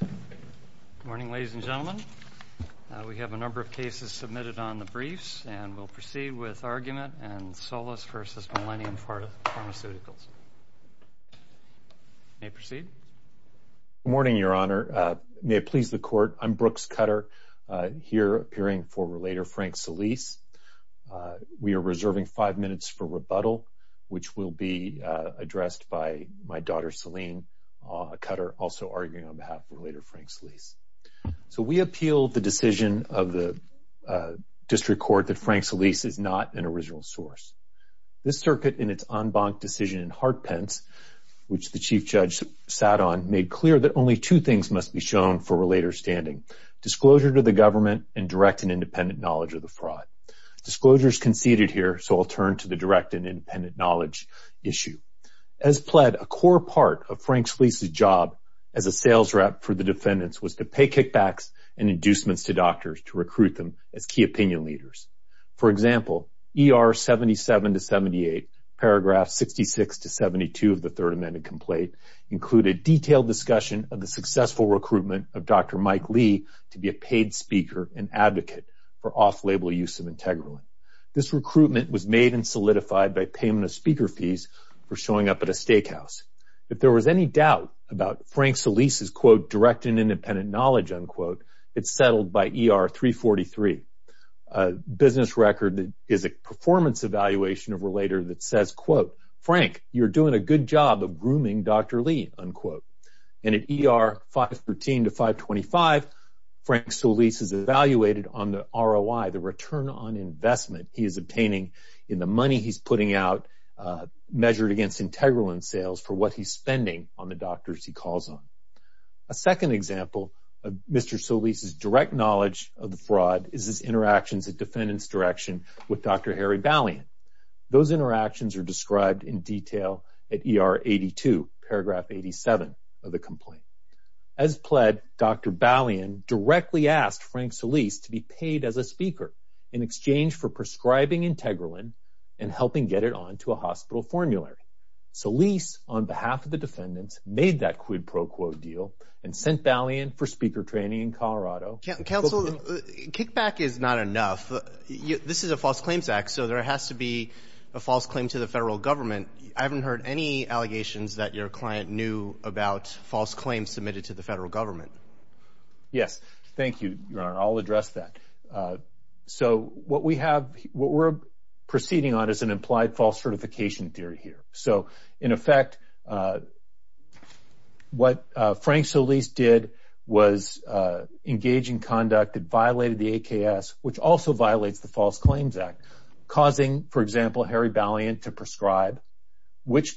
Good morning, ladies and gentlemen. We have a number of cases submitted on the briefs and we'll proceed with argument and Solis v. Millennium Pharmaceuticals. May I proceed? Good morning, Your Honor. May it please the Court, I'm Brooks Cutter, here appearing for Relator Frank Solis. We are reserving five minutes for rebuttal, which will be addressed by my daughter Selene Cutter, also arguing on behalf of Relator Frank Solis. So we appeal the decision of the District Court that Frank Solis is not an original source. This circuit in its en banc decision in Hartpence, which the Chief Judge sat on, made clear that only two things must be shown for Relator's standing. Disclosure to the government and direct and independent knowledge of the fraud. Disclosure is conceded here, so I'll turn to the direct and independent knowledge issue. As pled, a core part of the sales rep for the defendants was to pay kickbacks and inducements to doctors to recruit them as key opinion leaders. For example, ER 77 to 78, paragraph 66 to 72 of the Third Amended Complaint, included detailed discussion of the successful recruitment of Dr. Mike Lee to be a paid speaker and advocate for off-label use of Integroin. This recruitment was made and solidified by payment of speaker fees for showing up at a steakhouse. If there was any doubt about Frank Solis' quote direct and independent knowledge unquote, it's settled by ER 343. A business record that is a performance evaluation of Relator that says quote, Frank, you're doing a good job of grooming Dr. Lee unquote. And at ER 513 to 525, Frank Solis is evaluated on the ROI, the return on investment he is obtaining in the money he's putting out measured against Integroin sales for what he's spending on the doctors he calls on. A second example of Mr. Solis' direct knowledge of the fraud is his interactions at defendants direction with Dr. Harry Balian. Those interactions are described in detail at ER 82, paragraph 87 of the complaint. As pled, Dr. Balian directly asked Frank Solis to be paid as a speaker in exchange for prescribing Integroin and helping get it on to a hospital formulary. Solis, on behalf of the defendants, made that quid pro quo deal and sent Balian for speaker training in Colorado. Counsel, kickback is not enough. This is a false claims act, so there has to be a false claim to the federal government. I haven't heard any allegations that your client knew about false claims submitted to the federal government. Yes, thank you. I'll address that. So, what we have, what we're proceeding on is an implied false certification theory here. So, in effect, what Frank Solis did was engage in conduct that violated the AKS, which also violates the False Claims Act, causing, for example, Harry Balian to prescribe which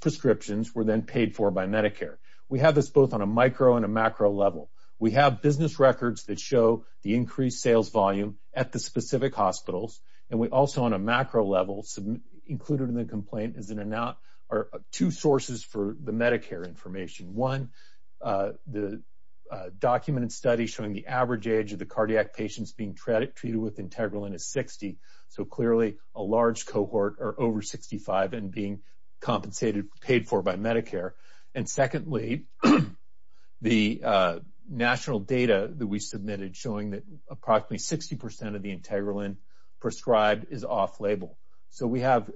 prescriptions were then paid for by Medicare. We have this both on a micro and a macro level. We have business records that show the increased sales volume at the specific hospitals, and we also, on a macro level, included in the complaint are two sources for the Medicare information. One, the documented study showing the average age of the cardiac patients being treated with Integroin is 60. So, clearly, a large cohort are over 65 and being compensated, paid for by Medicare. And secondly, the national data that we submitted showing that approximately 60 percent of the Integroin prescribed is off-label. So, we have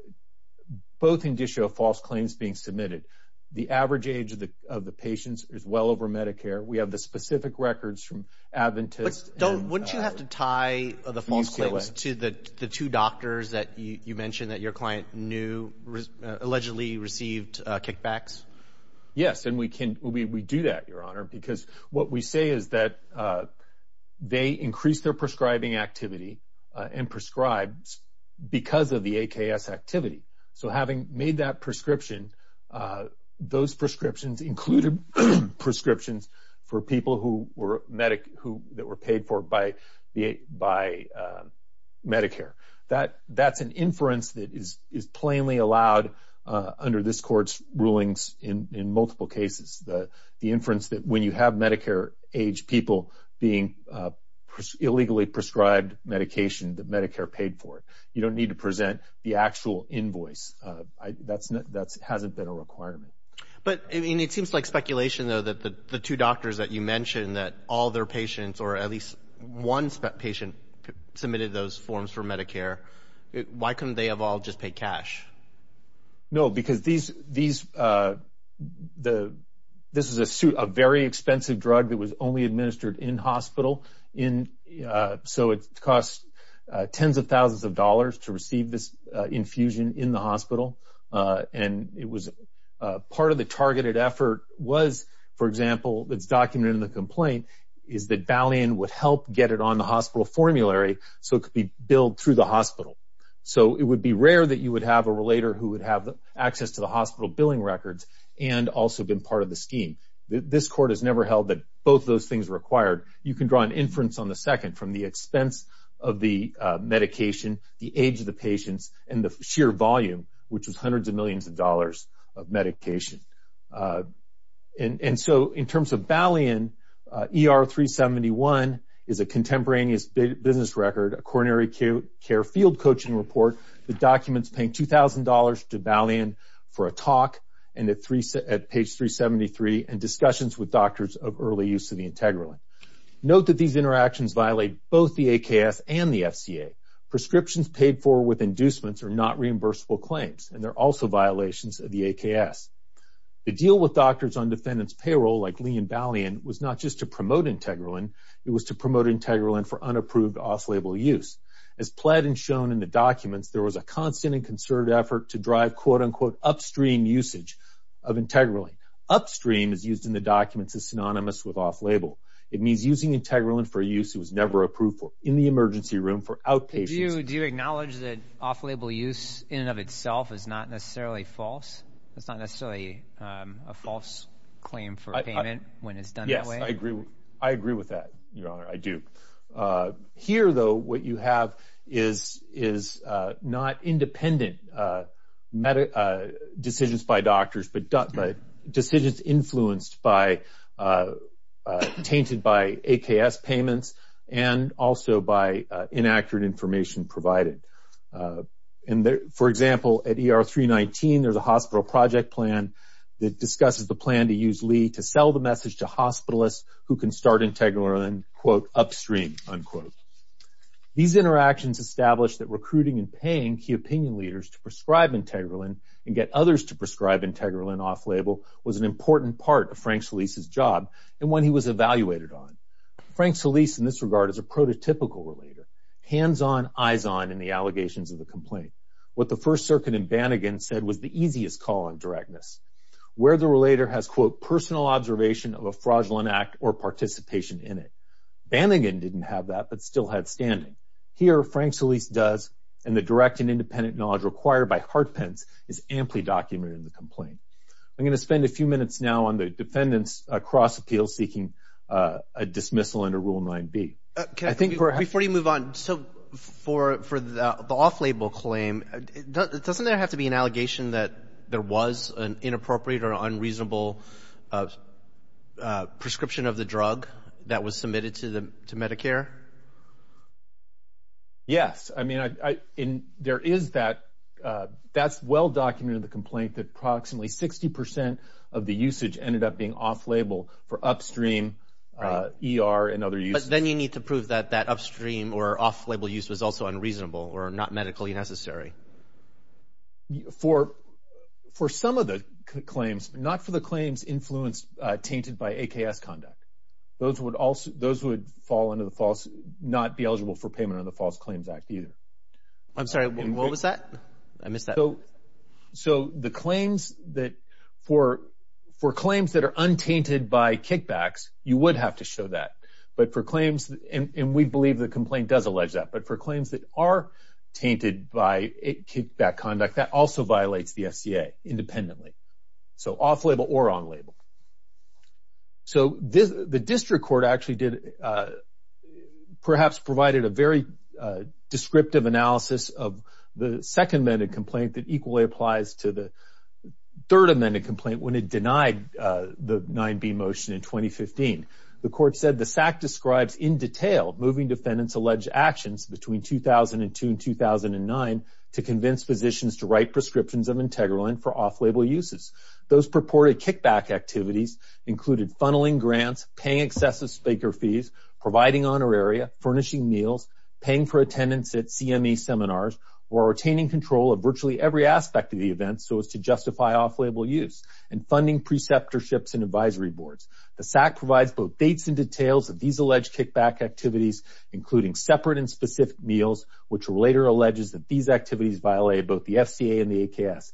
both indicia of false claims being submitted. The average age of the patients is well over Medicare. We have the specific records from Adventist. Don't, wouldn't you have to tie the false claims to the two doctors that you mentioned that your client knew allegedly received kickbacks? Yes, and we can, we do that, Your Honor, because what we say is that they increased their prescribing activity and prescribed because of the AKS activity. So, having made that prescription, those prescriptions included prescriptions for people who were medic, who, that were paid for by the, by Medicare. That, that's an inference that is, is plainly allowed under this court's rulings in, in multiple cases. The, the inference that when you have Medicare age people being illegally prescribed medication that Medicare paid for, you don't need to present the actual invoice. That's not, that hasn't been a requirement. But, I mean, it seems like speculation, though, that the two doctors that you mentioned that all their patients, or at least one patient submitted those forms for Medicare. Why couldn't they have all just paid cash? No, because these, these, the, this is a suit, a very expensive drug that was only administered in hospital in, so it cost tens of thousands of dollars to receive this infusion in the hospital. And it was, part of the targeted effort was, for example, that's documented in the complaint, is that Valiant would help get it on the hospital formulary so it could be billed through the hospital. So, it would be rare that you would have a relator who would have access to the hospital billing records and also been part of the scheme. This court has never held that both those things required. You can draw an inference on the second from the expense of the medication, the age of the patients, and the sheer volume, which is hundreds of millions of dollars of medication. And, and so, in terms of Valiant, ER 371 is a contemporaneous business record, a coronary acute care field coaching report, the documents paying $2,000 to Valiant for a talk, and at three, at page 373, and discussions with doctors of early use of the Integraline. Note that these interactions violate both the AKS and the FCA. Prescriptions paid for with inducements are not reimbursable claims, and they're also violations of the AKS. The deal with doctors on defendant's payroll, like Lee and Valiant, was not just to promote Integraline, it was to promote Integraline for unapproved off-label use. As pled and shown in the documents, there was a constant and concerted effort to drive, quote-unquote, upstream usage of Integraline. Upstream, as used in the documents, is synonymous with off-label. It means using Integraline for a use that was never approved for, in the emergency room, for outpatients. Do you acknowledge that off-label use, in and of itself, is not necessarily false? It's not necessarily a false claim for payment when it's done that way? Yes, I agree with that, Your Honor, I do. Here, though, what you have is not independent decisions by doctors, but decisions influenced by, tainted by, AKS payments, and also by inaccurate information provided. For example, at ER 319, there's a hospital project plan that discusses the plan to use Lee to sell the message to hospitalists who can start Integraline, quote, upstream, unquote. These interactions established that recruiting and paying key opinion leaders to prescribe Integraline and get part of Frank Solis' job, and one he was evaluated on. Frank Solis, in this regard, is a prototypical relator, hands-on, eyes-on, in the allegations of the complaint. What the First Circuit in Bannigan said was the easiest call on directness, where the relator has, quote, personal observation of a fraudulent act or participation in it. Bannigan didn't have that, but still had standing. Here, Frank Solis does, and the direct and independent knowledge required by Hartpence is amply documented in the complaint. I'm going to spend a few minutes now on the defendants' cross-appeal seeking a dismissal under Rule 9b. Before you move on, so for the off-label claim, doesn't there have to be an allegation that there was an inappropriate or unreasonable prescription of the drug that was submitted to Medicare? Yes, I mean, there is that. That's well-documented in the complaint that approximately 60% of the usage ended up being off-label for upstream ER and other uses. But then you need to prove that that upstream or off-label use was also unreasonable or not medically necessary. For some of the claims, not for the claims influenced, tainted by AKS conduct. Those would fall under the false, not be eligible for payment under the False Claims Act, either. I'm sorry, what was that? I missed that. So the claims that, for claims that are untainted by kickbacks, you would have to show that. But for claims, and we believe the complaint does allege that, but for claims that are tainted by kickback conduct, that also violates the FCA independently. So off-label or on-label. So the district court actually did, perhaps provided a very descriptive analysis of the second amended complaint that equally applies to the third amended complaint when it denied the 9b motion in 2015. The court said the SAC describes in detail moving defendants alleged actions between 2002 and 2009 to convince physicians to write prescriptions of Integraline for off-label uses. Those purported kickback activities included funneling grants, paying excessive spaker fees, providing honoraria, furnishing meals, paying for attendance at CME seminars, or retaining control of virtually every aspect of the event so as to justify off-label use, and funding preceptorships and advisory boards. The SAC provides both dates and details of these alleged kickback activities, including separate and specific meals, which were later alleges that these activities violate both the FCA and the AKS.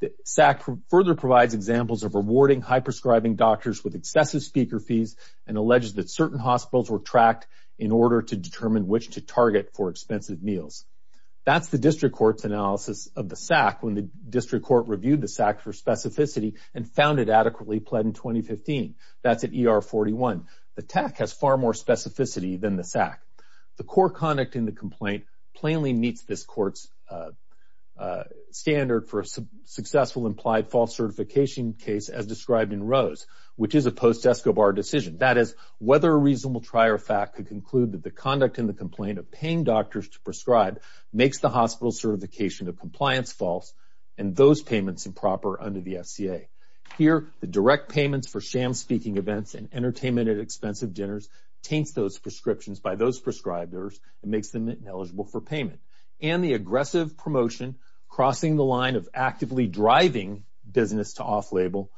The SAC further provides examples of rewarding high prescribing doctors with excessive speaker fees and alleges that certain hospitals were tracked in order to determine which to provide more expensive meals. That's the district court's analysis of the SAC when the district court reviewed the SAC for specificity and found it adequately pled in 2015. That's at ER 41. The TAC has far more specificity than the SAC. The court conduct in the complaint plainly meets this court's standard for a successful implied false certification case as described in Rose, which is a post-ESCO bar decision. That is, whether a reasonable trier of fact could conclude that the prescribed makes the hospital certification of compliance false and those payments improper under the FCA. Here, the direct payments for sham speaking events and entertainment at expensive dinners taints those prescriptions by those prescribers and makes them ineligible for payment. And the aggressive promotion crossing the line of actively driving business to off-label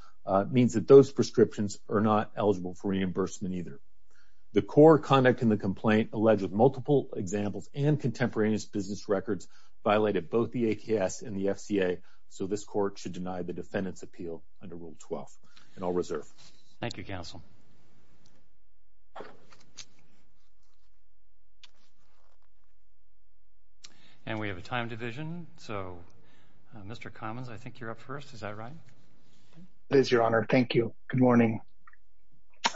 means that those prescriptions are not eligible for reimbursement either. The court conduct in the complaint alleged with multiple examples and contemporaneous business records violated both the ATS and the FCA, so this court should deny the defendant's appeal under Rule 12 and I'll reserve. Thank you, counsel. And we have a time division, so Mr. Commons, I think you're up first. Is that right? It is, your honor. Thank you. Good morning.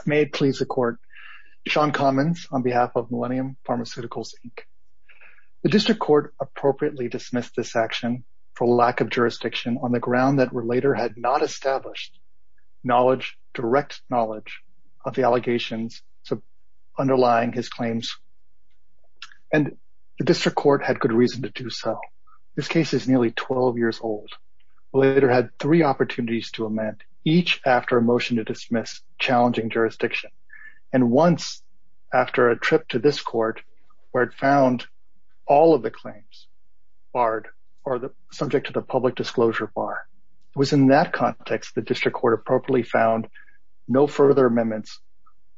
May it please the court. Sean Commons on behalf of Millennium Pharmaceuticals, Inc. The district court appropriately dismissed this action for lack of jurisdiction on the ground that Relator had not established knowledge, direct knowledge, of the allegations underlying his claims and the district court had good reason to do so. This case is nearly 12 years old. Relator had three opportunities to amend, each after a trip to this court where it found all of the claims barred or the subject to the public disclosure bar. It was in that context the district court appropriately found no further amendments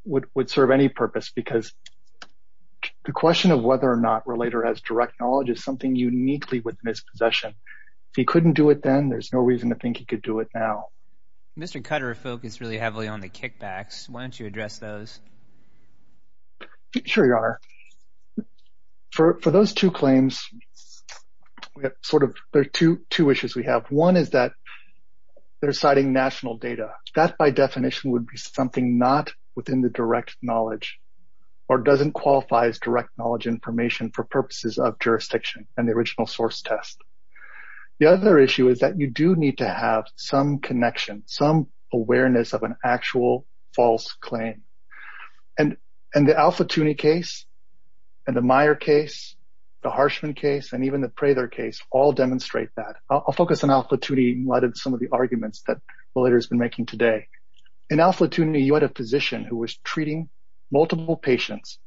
would serve any purpose because the question of whether or not Relator has direct knowledge is something uniquely within his possession. If he couldn't do it then, there's no reason to think he could do it now. Mr. Cutter focused really heavily on the Sure, your honor. For those two claims, there are two issues we have. One is that they're citing national data. That by definition would be something not within the direct knowledge or doesn't qualify as direct knowledge information for purposes of jurisdiction and the original source test. The other issue is that you do need to have some connection, some awareness of an actual false claim. And the Al-Flatouni case and the Meyer case, the Harshman case and even the Prather case all demonstrate that. I'll focus on Al-Flatouni in light of some of the arguments that Relator has been making today. In Al-Flatouni, you had a physician who was treating multiple patients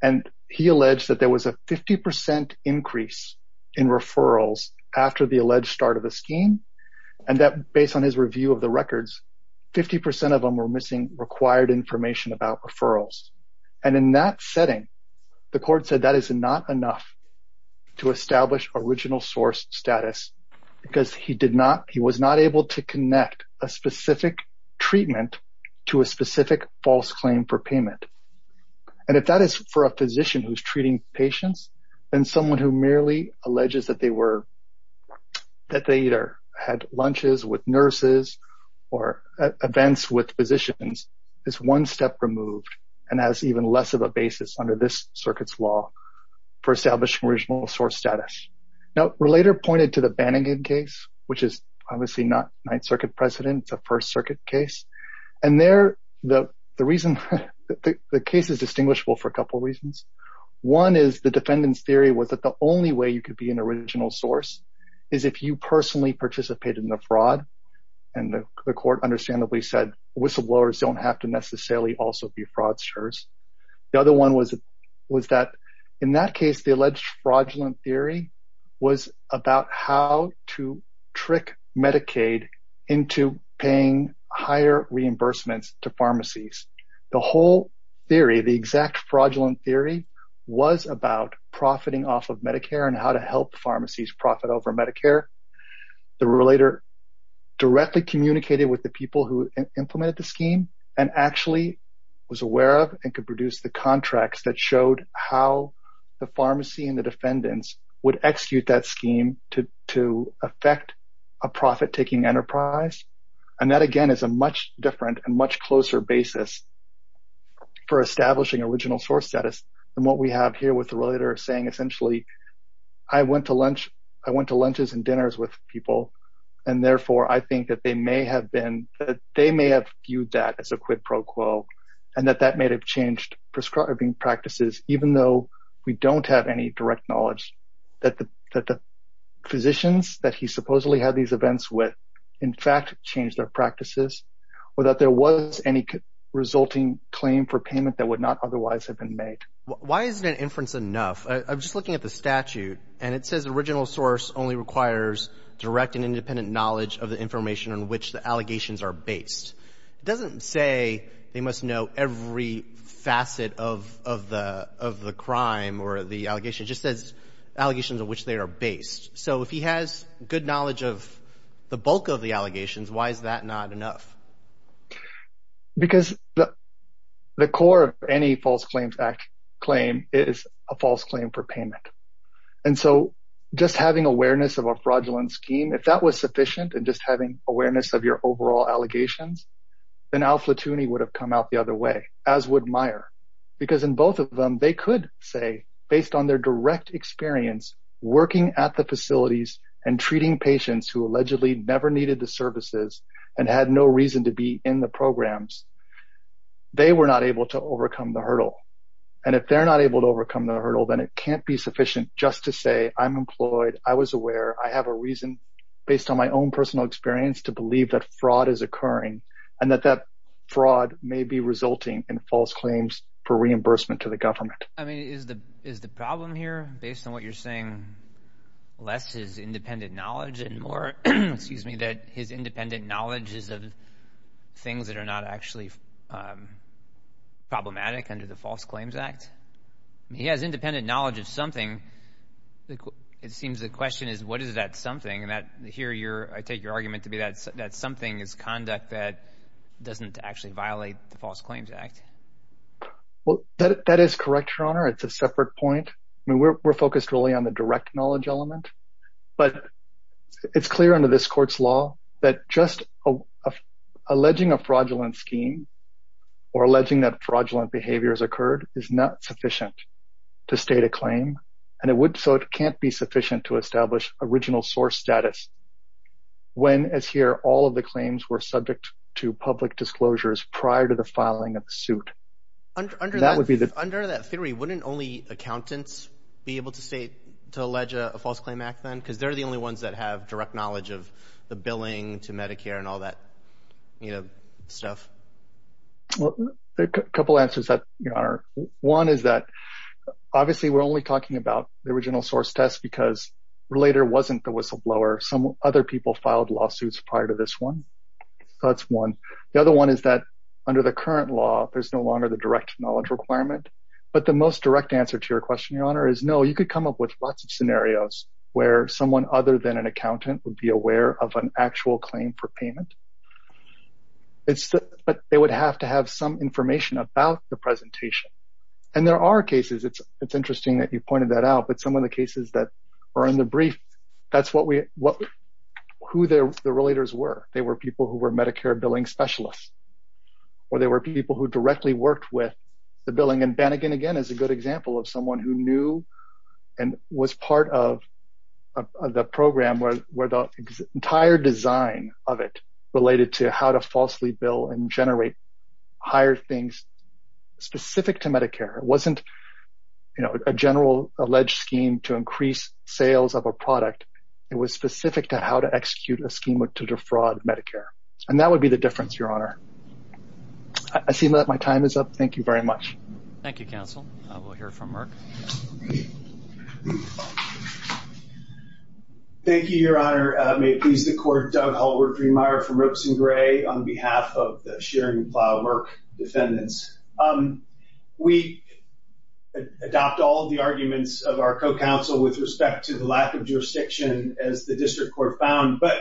and he alleged that there was a 50% increase in referrals after the alleged start of the scheme and that based on his review of the records, 50% of them were missing required information about referrals. And in that setting, the court said that is not enough to establish original source status because he did not, he was not able to connect a specific treatment to a specific false claim for payment. And if that is for a physician who's treating patients and someone who merely alleges that they either had lunches with nurses or events with physicians, is one step removed and has even less of a basis under this circuit's law for establishing original source status. Now, Relator pointed to the Bannigan case, which is obviously not Ninth Circuit precedent, it's a First Circuit case. And there, the reason, the case is distinguishable for a couple reasons. One is the defendant's theory was that the only way you could be an original source is if you personally participated in the fraud. And the court understandably said whistleblowers don't have to necessarily also be fraudsters. The other one was that in that case, the alleged fraudulent theory was about how to trick Medicaid into paying higher reimbursements to pharmacies. The whole theory, the exact fraudulent theory, was about profiting off of Medicare and how to help pharmacies profit over Medicare. The Relator directly communicated with the people who implemented the scheme and actually was aware of and could produce the contracts that showed how the pharmacy and the defendants would execute that scheme to affect a profit-taking enterprise. And that, again, is a much different and much closer basis for the Relator saying essentially, I went to lunch, I went to lunches and dinners with people and therefore I think that they may have been, that they may have viewed that as a quid pro quo and that that may have changed prescribing practices even though we don't have any direct knowledge that the physicians that he supposedly had these events with, in fact, changed their practices or that there was any resulting claim for payment that would not otherwise have been made. Why isn't an inference enough? I'm just looking at the statute and it says original source only requires direct and independent knowledge of the information on which the allegations are based. It doesn't say they must know every facet of the crime or the allegation. It just says allegations of which they are based. So if he has good knowledge of the bulk of the allegations, why is that not enough? Because the core of any False Claims Act claim is a false claim for payment. And so just having awareness of a fraudulent scheme, if that was sufficient and just having awareness of your overall allegations, then Al Flatouni would have come out the other way, as would Meyer, because in both of them they could say, based on their direct experience working at the facilities and treating patients who allegedly never needed the services and had no reason to be in the programs, they were not able to overcome the hurdle. And if they're not able to overcome the hurdle, then it can't be sufficient just to say, I'm employed, I was aware, I have a reason, based on my own personal experience, to believe that fraud is occurring and that that fraud may be resulting in false claims for reimbursement to the government. I mean, is the problem here, based on what you're saying, less is independent knowledges of things that are not actually problematic under the False Claims Act? He has independent knowledge of something. It seems the question is, what is that something? And here I take your argument to be that something is conduct that doesn't actually violate the False Claims Act. Well, that is correct, Your Honor. It's a separate point. I mean, we're focused really on the direct knowledge element. But it's clear under this Court's law that just alleging a fraudulent scheme or alleging that fraudulent behavior has occurred is not sufficient to state a claim. And it would, so it can't be sufficient to establish original source status when, as here, all of the claims were subject to public disclosures prior to the filing of the suit. That would be the... Under that theory, wouldn't only accountants be able to state, to allege a False Claim Act then? Because they're the only ones that have direct knowledge of the billing to Medicare and all that, you know, stuff. Well, a couple answers that, Your Honor. One is that obviously we're only talking about the original source test because Relator wasn't the whistleblower. Some other people filed lawsuits prior to this one. So that's one. The other one is that under the current law, there's no longer the direct knowledge requirement. But the most direct answer to your question, Your Honor, is no, you could come up with lots of scenarios where someone other than an accountant would be aware of an actual claim for payment. But they would have to have some information about the presentation. And there are cases, it's interesting that you pointed that out, but some of the cases that are in the brief, that's what we, what, who the Relators were. They were people who were Medicare billing specialists. Or they were people who directly worked with the billing. And Bannigan, again, is a good example of someone who knew and was part of the program where the entire design of it related to how to falsely bill and generate higher things specific to Medicare. It wasn't, you know, a general alleged scheme to increase sales of a product. It was specific to how to execute a scheme to defraud Medicare. And that would be the difference, Your Honor. I see that my time is up. Thank you very much. Thank you, Counsel. We'll hear from Merck. Thank you, Your Honor. May it please the Court, Doug Hallward Greenmeier from Ropes & Gray on behalf of the Shearing & Plow Merck defendants. We adopt all the arguments of our co-counsel with respect to the lack of jurisdiction, as the District Court found. But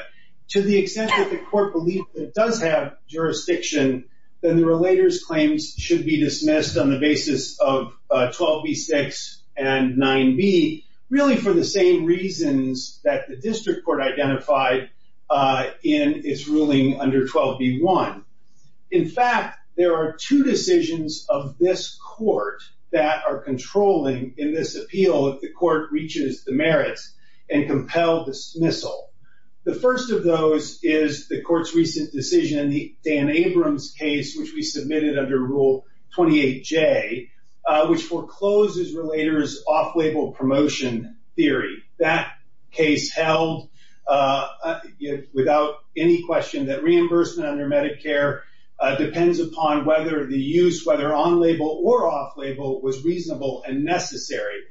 to the extent that the Court believes it does have jurisdiction, then the relator's claims should be dismissed on the basis of 12b6 and 9b, really for the same reasons that the District Court identified in its ruling under 12b1. In fact, there are two decisions of this Court that are controlling in this appeal if the Court reaches the merits and compels dismissal. The first of those is the Court's recent decision, Dan Abrams' case, which we submitted under Rule 28J, which forecloses relators' off-label promotion theory. That case held without any question that reimbursement under Medicare depends upon whether the use, whether on-label or off-label, was reasonable and necessary.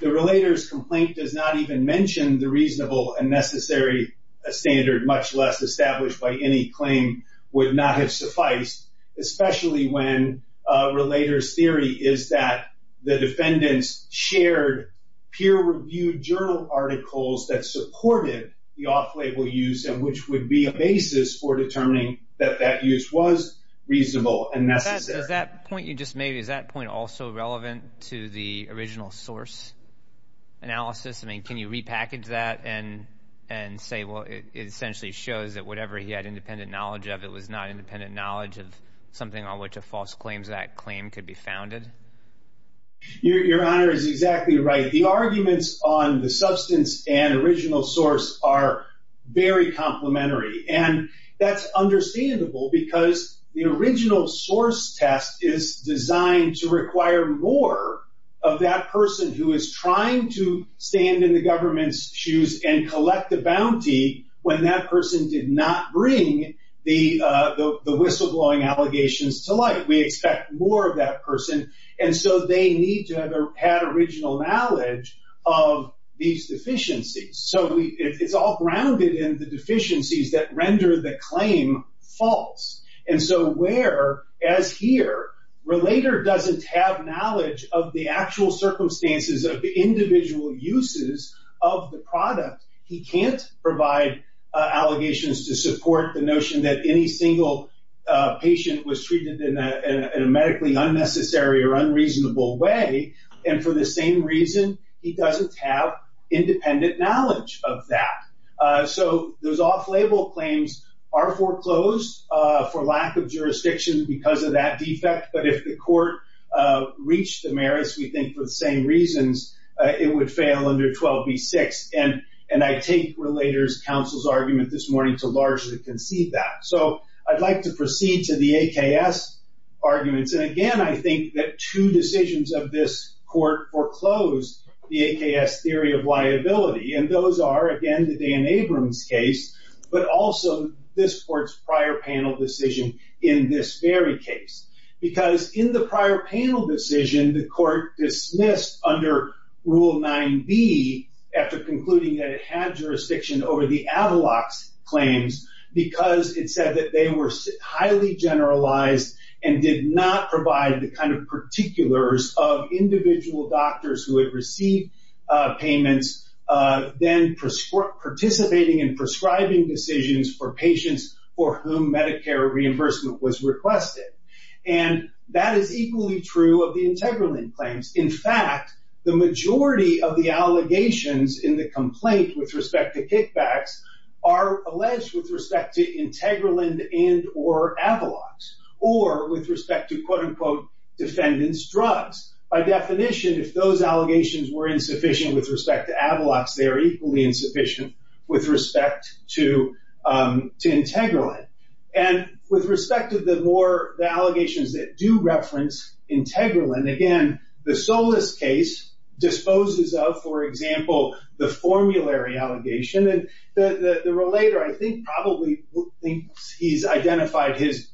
The relator's mention of the reasonable and necessary standard, much less established by any claim, would not have sufficed, especially when a relator's theory is that the defendants shared peer-reviewed journal articles that supported the off-label use and which would be a basis for determining that that use was reasonable and necessary. Does that point you just made, is that point also relevant to the original source analysis? I mean, can you repackage that and say, well, it essentially shows that whatever he had independent knowledge of, it was not independent knowledge of something on which a false claims act claim could be founded? Your Honor is exactly right. The arguments on the substance and original source are very complementary, and that's understandable because the original source test is designed to require more of that person who is trying to stand in the government's shoes and collect the bounty when that person did not bring the whistleblowing allegations to light. We expect more of that person, and so they need to have had original knowledge of these deficiencies. So it's all grounded in the deficiencies that render the claim false, and so where, as here, relator doesn't have knowledge of the actual circumstances of the individual uses of the product, he can't provide allegations to support the notion that any single patient was treated in a medically unnecessary or unreasonable way, and for the same reason, he doesn't have independent knowledge of that. So those off-label claims are foreclosed for lack of jurisdiction because of that defect, but if the court reached the merits, we think for the same reasons, it would fail under 12b-6, and I take relator's counsel's argument this morning to largely concede that. So I'd like to proceed to the AKS arguments, and again, I think that two decisions of this court foreclosed the AKS theory of liability, and those are, again, the Dan Abrams case, but also this court's prior panel decision in this very case, because in the prior panel decision, the court dismissed, under rule 9b, after concluding that it had jurisdiction over the Avalox claims because it said that they were highly generalized and did not provide the kind of particulars of individual doctors who had received payments, then participating in prescribing decisions for patients for whom Medicare reimbursement was requested, and that is equally true of the Integralind claims. In fact, the majority of the allegations in the complaint with respect to kickbacks are alleged with respect to Integralind and or Avalox, or with respect to defendants' drugs. By definition, if those allegations were insufficient with respect to Avalox, they are equally insufficient with respect to Integralind, and with respect to the more, the allegations that do reference Integralind, again, the Solis case disposes of, for example, the formulary allegation, and the relator, I think, probably thinks he's identified his,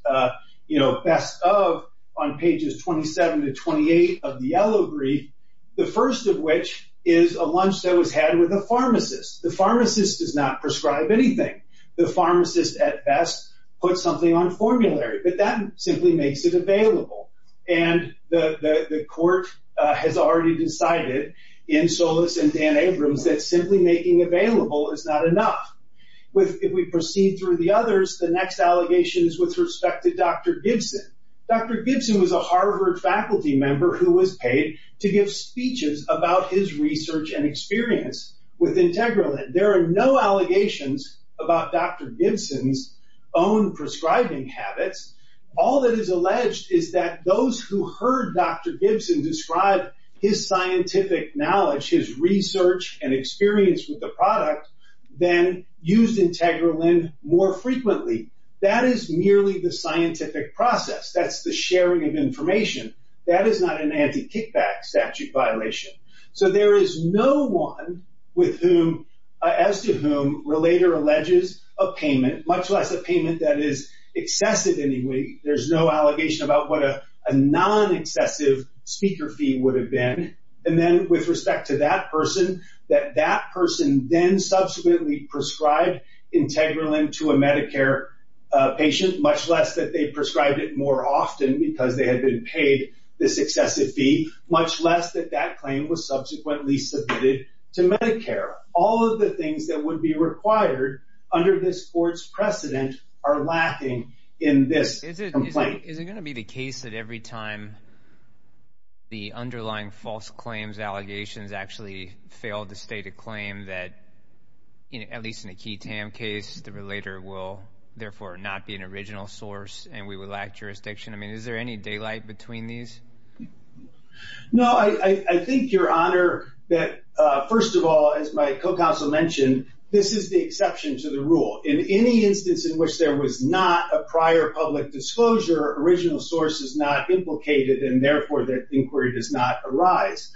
you know, best of on pages 27 to 28 of the yellow brief, the first of which is a lunch that was had with a pharmacist. The pharmacist does not prescribe anything. The pharmacist, at best, puts something on formulary, but that simply makes it available, and the court has already decided in Solis and Dan Abrams that simply making available is not enough. If we proceed through the others, the next allegation is with respect to Dr. Gibson. Dr. Gibson was a Harvard faculty member who was paid to give speeches about his research and experience with Integralind. There are no allegations about Dr. Gibson's own prescribing habits. All that is alleged is that those who heard Dr. Gibson describe his scientific knowledge, his research and experience with the product, then used Integralind more frequently. That is merely the scientific process. That's the sharing of information. That is not an anti-kickback statute violation. So, there is no one with whom, as to whom, relator alleges a payment, much less a payment that is excessive anyway. There's no allegation about what a non-excessive speaker fee would have been, and then, with respect to that person, that that person then subsequently prescribed Integralind to a Medicare patient, much less that they prescribed it more often because they had been paid this excessive fee, much less that that claim was subsequently submitted to Medicare. All of the things that would be required under this court's precedent are lacking in this complaint. Is it going to be the case that every time the underlying false claims allegations actually fail to state a claim that, at least in a key TAM case, the relator will therefore not be an original source and we would lack jurisdiction? I mean, is there any daylight between these? No, I think, Your Honor, that, first of all, as my co-counsel mentioned, this is the exception to the rule. In any instance in which there was not a prior public disclosure, original source is not implicated and, therefore, that inquiry does not arise.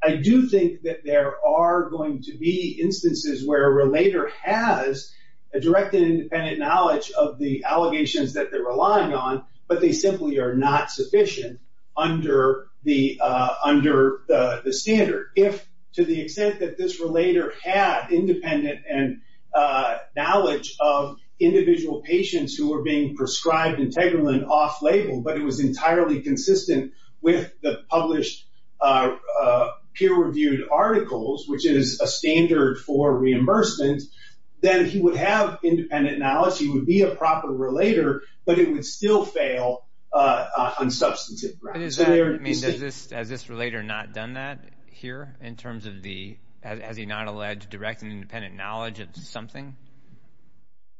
I do think that there are going to be instances where a relator has a direct and independent knowledge of the allegations that they're relying on, but they simply are not sufficient under the standard. If, to the extent that this relator had independent knowledge of individual patients who were being prescribed integral and off-label, but it was entirely consistent with the published peer-reviewed articles, which is a standard for reimbursement, then he would have independent knowledge. He would be a proper relator, but it would still fail on substantive grounds. Has this relator not done that here, in terms of the, as he not alleged, direct and independent knowledge of something?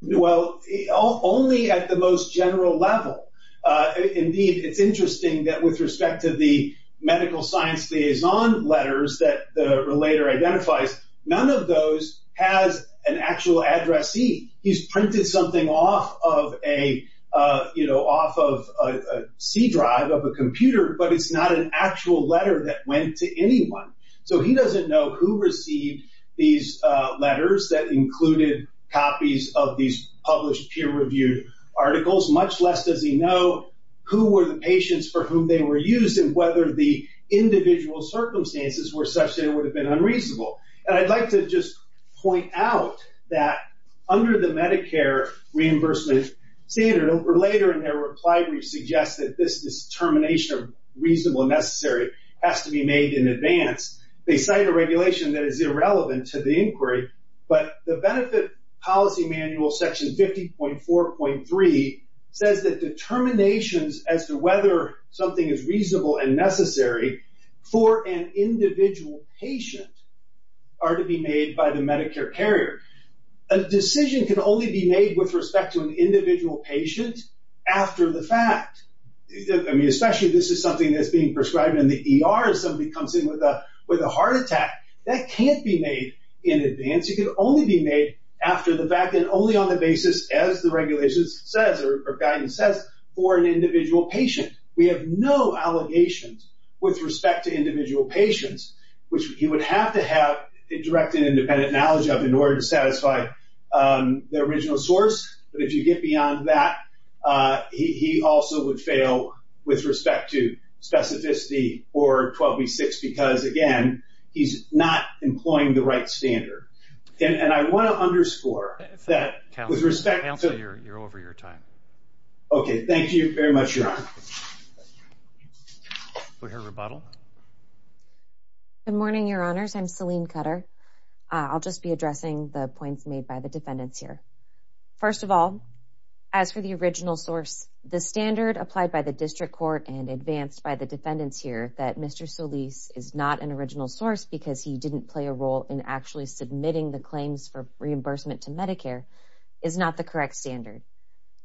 Well, only at the most general level. Indeed, it's interesting that with respect to the medical science liaison letters that the relator identifies, none of those has an actual addressee. He's printed something off of a, you know, off of a C drive of a computer, but it's not an actual letter that went to anyone. So he doesn't know who received these letters that included copies of these published peer-reviewed articles, much less does he know who were the patients for whom they were used and whether the individual circumstances were such that it would have been unreasonable. And I'd like to just point out that under the Medicare reimbursement standard, a relator in their reply brief suggests that this determination of reasonable and necessary has to be made in advance. They cite a regulation that is irrelevant to the inquiry, but the benefit policy manual section 50.4.3 says that determinations as to whether something is reasonable and necessary for an individual patient are to be made by the Medicare carrier. A decision can only be made with respect to an individual patient after the fact. I mean, especially if this is something that's being prescribed in the ER, if somebody comes in with a heart attack, that can't be made in advance. It can only be made after the fact and only on the basis, as the regulations says or guidance says, for an individual patient. We have no allegations with respect to individual patients, which he would have to have a direct and satisfied original source. But if you get beyond that, he also would fail with respect to specificity or 12B6 because, again, he's not employing the right standard. And I want to underscore that with respect to... Counselor, you're over your time. Okay. Thank you very much, Your Honor. We'll hear rebuttal. Good morning, Your Honors. I'm Selene Cutter. I'll just be addressing the points made by the defendants here. First of all, as for the original source, the standard applied by the district court and advanced by the defendants here that Mr. Solis is not an original source because he didn't play a role in actually submitting the claims for reimbursement to Medicare is not the correct standard.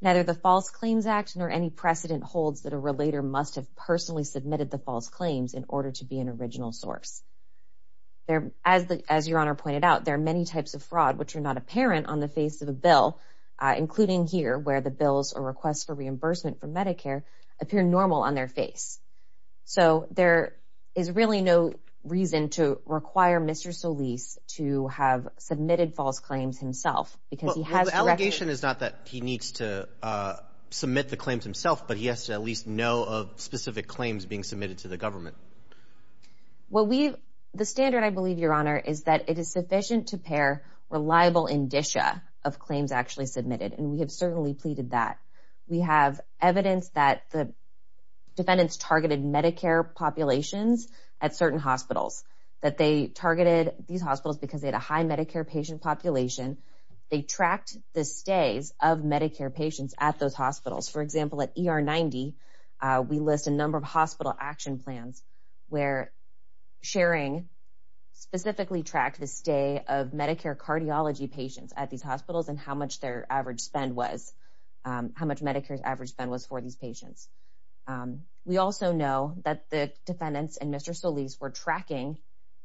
Neither the False Claims Act nor any precedent holds that a relator must have personally submitted the false claims in order to be an original source. As Your Honor pointed out, there are many types of fraud which are not apparent on the face of a bill, including here where the bills or requests for reimbursement from Medicare appear normal on their face. So there is really no reason to require Mr. Solis to have submitted false claims himself because he has... Well, the allegation is not that he needs to submit the claims himself, but he has to at specific claims being submitted to the government. Well, the standard, I believe, Your Honor, is that it is sufficient to pair reliable indicia of claims actually submitted, and we have certainly pleaded that. We have evidence that the defendants targeted Medicare populations at certain hospitals, that they targeted these hospitals because they had a high Medicare patient population. They tracked the stays of Medicare patients at those hospitals. We list a number of hospital action plans where sharing specifically tracked the stay of Medicare cardiology patients at these hospitals and how much their average spend was, how much Medicare's average spend was for these patients. We also know that the defendants and Mr. Solis were tracking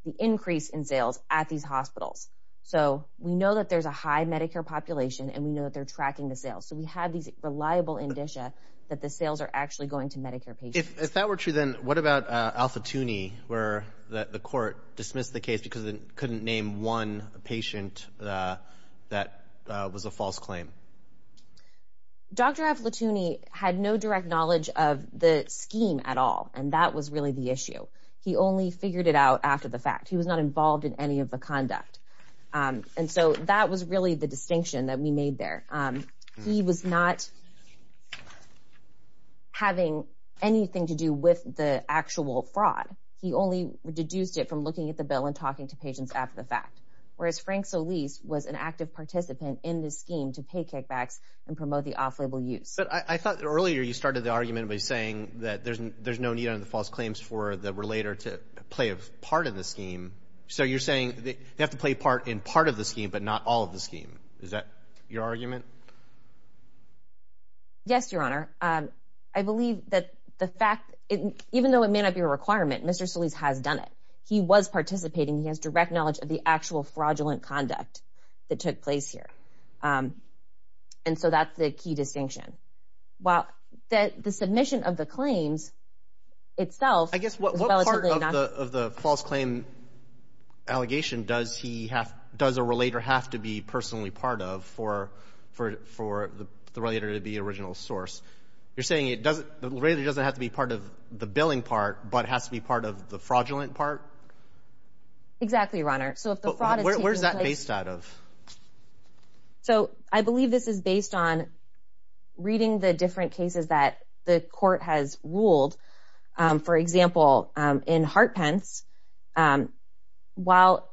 the increase in sales at these hospitals. So we know that there's a high Medicare population, and we know that they're tracking the sales. So we have these reliable indicia that the sales are actually going to Medicare patients. If that were true, then what about Al Futuni, where the court dismissed the case because it couldn't name one patient that was a false claim? Dr. Al Futuni had no direct knowledge of the scheme at all, and that was really the issue. He only figured it out after the fact. He was not involved in any of the conduct. And so that was really the distinction that we made there. He was not... having anything to do with the actual fraud. He only deduced it from looking at the bill and talking to patients after the fact, whereas Frank Solis was an active participant in the scheme to pay kickbacks and promote the off-label use. But I thought earlier you started the argument by saying that there's no need under the false claims for the relator to play a part in the scheme. So you're saying they have to play part in part of the scheme, but not all of the scheme. Is that your argument? Yes, Your Honor. I believe that the fact... even though it may not be a requirement, Mr. Solis has done it. He was participating. He has direct knowledge of the actual fraudulent conduct that took place here. And so that's the key distinction. While the submission of the claims itself... I guess what part of the false claim allegation does a relator have to be personally part of for the relator to be the original source? You're saying it doesn't... the relator doesn't have to be part of the billing part, but has to be part of the fraudulent part? Exactly, Your Honor. So if the fraud is taking place... Where's that based out of? So I believe this is based on reading the different cases that the court has ruled. For example, in Hartpence, while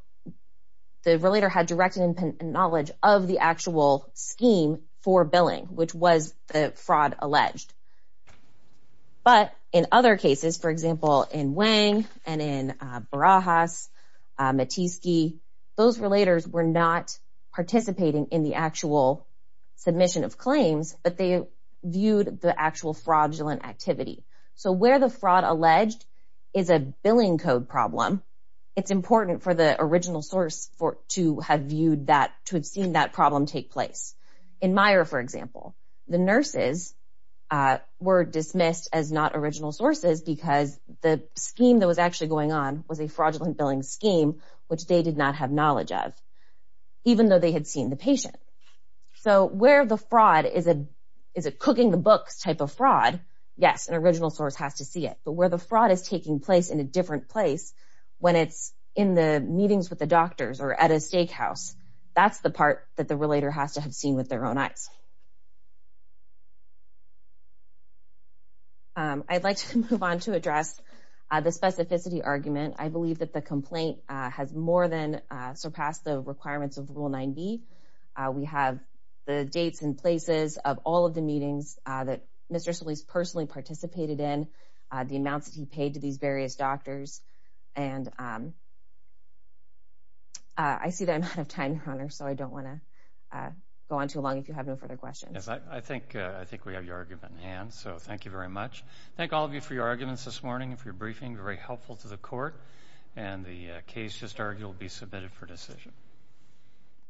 the relator had direct knowledge of the actual scheme for billing, which was the fraud alleged. But in other cases, for example, in Wang and in Barajas, Matisky, those relators were not participating in the actual submission of claims, but they fraud alleged is a billing code problem, it's important for the original source to have viewed that, to have seen that problem take place. In Meyer, for example, the nurses were dismissed as not original sources because the scheme that was actually going on was a fraudulent billing scheme, which they did not have knowledge of, even though they had seen the patient. So where the fraud is a cooking the books type of fraud, yes, an original source has to see it. But where the fraud is taking place in a different place, when it's in the meetings with the doctors or at a steakhouse, that's the part that the relator has to have seen with their own eyes. I'd like to move on to address the specificity argument. I believe that the complaint has more than surpassed the requirements of Rule 9b. We have the dates and places of all of the meetings that Mr. Solis personally participated in, the amounts that he paid to these various doctors, and I see that I'm out of time, Your Honor, so I don't want to go on too long if you have no further questions. I think we have your argument in hand, so thank you very much. Thank all of you for your arguments this morning and for your briefing, very helpful to the court. And the case just argued will be submitted for decision.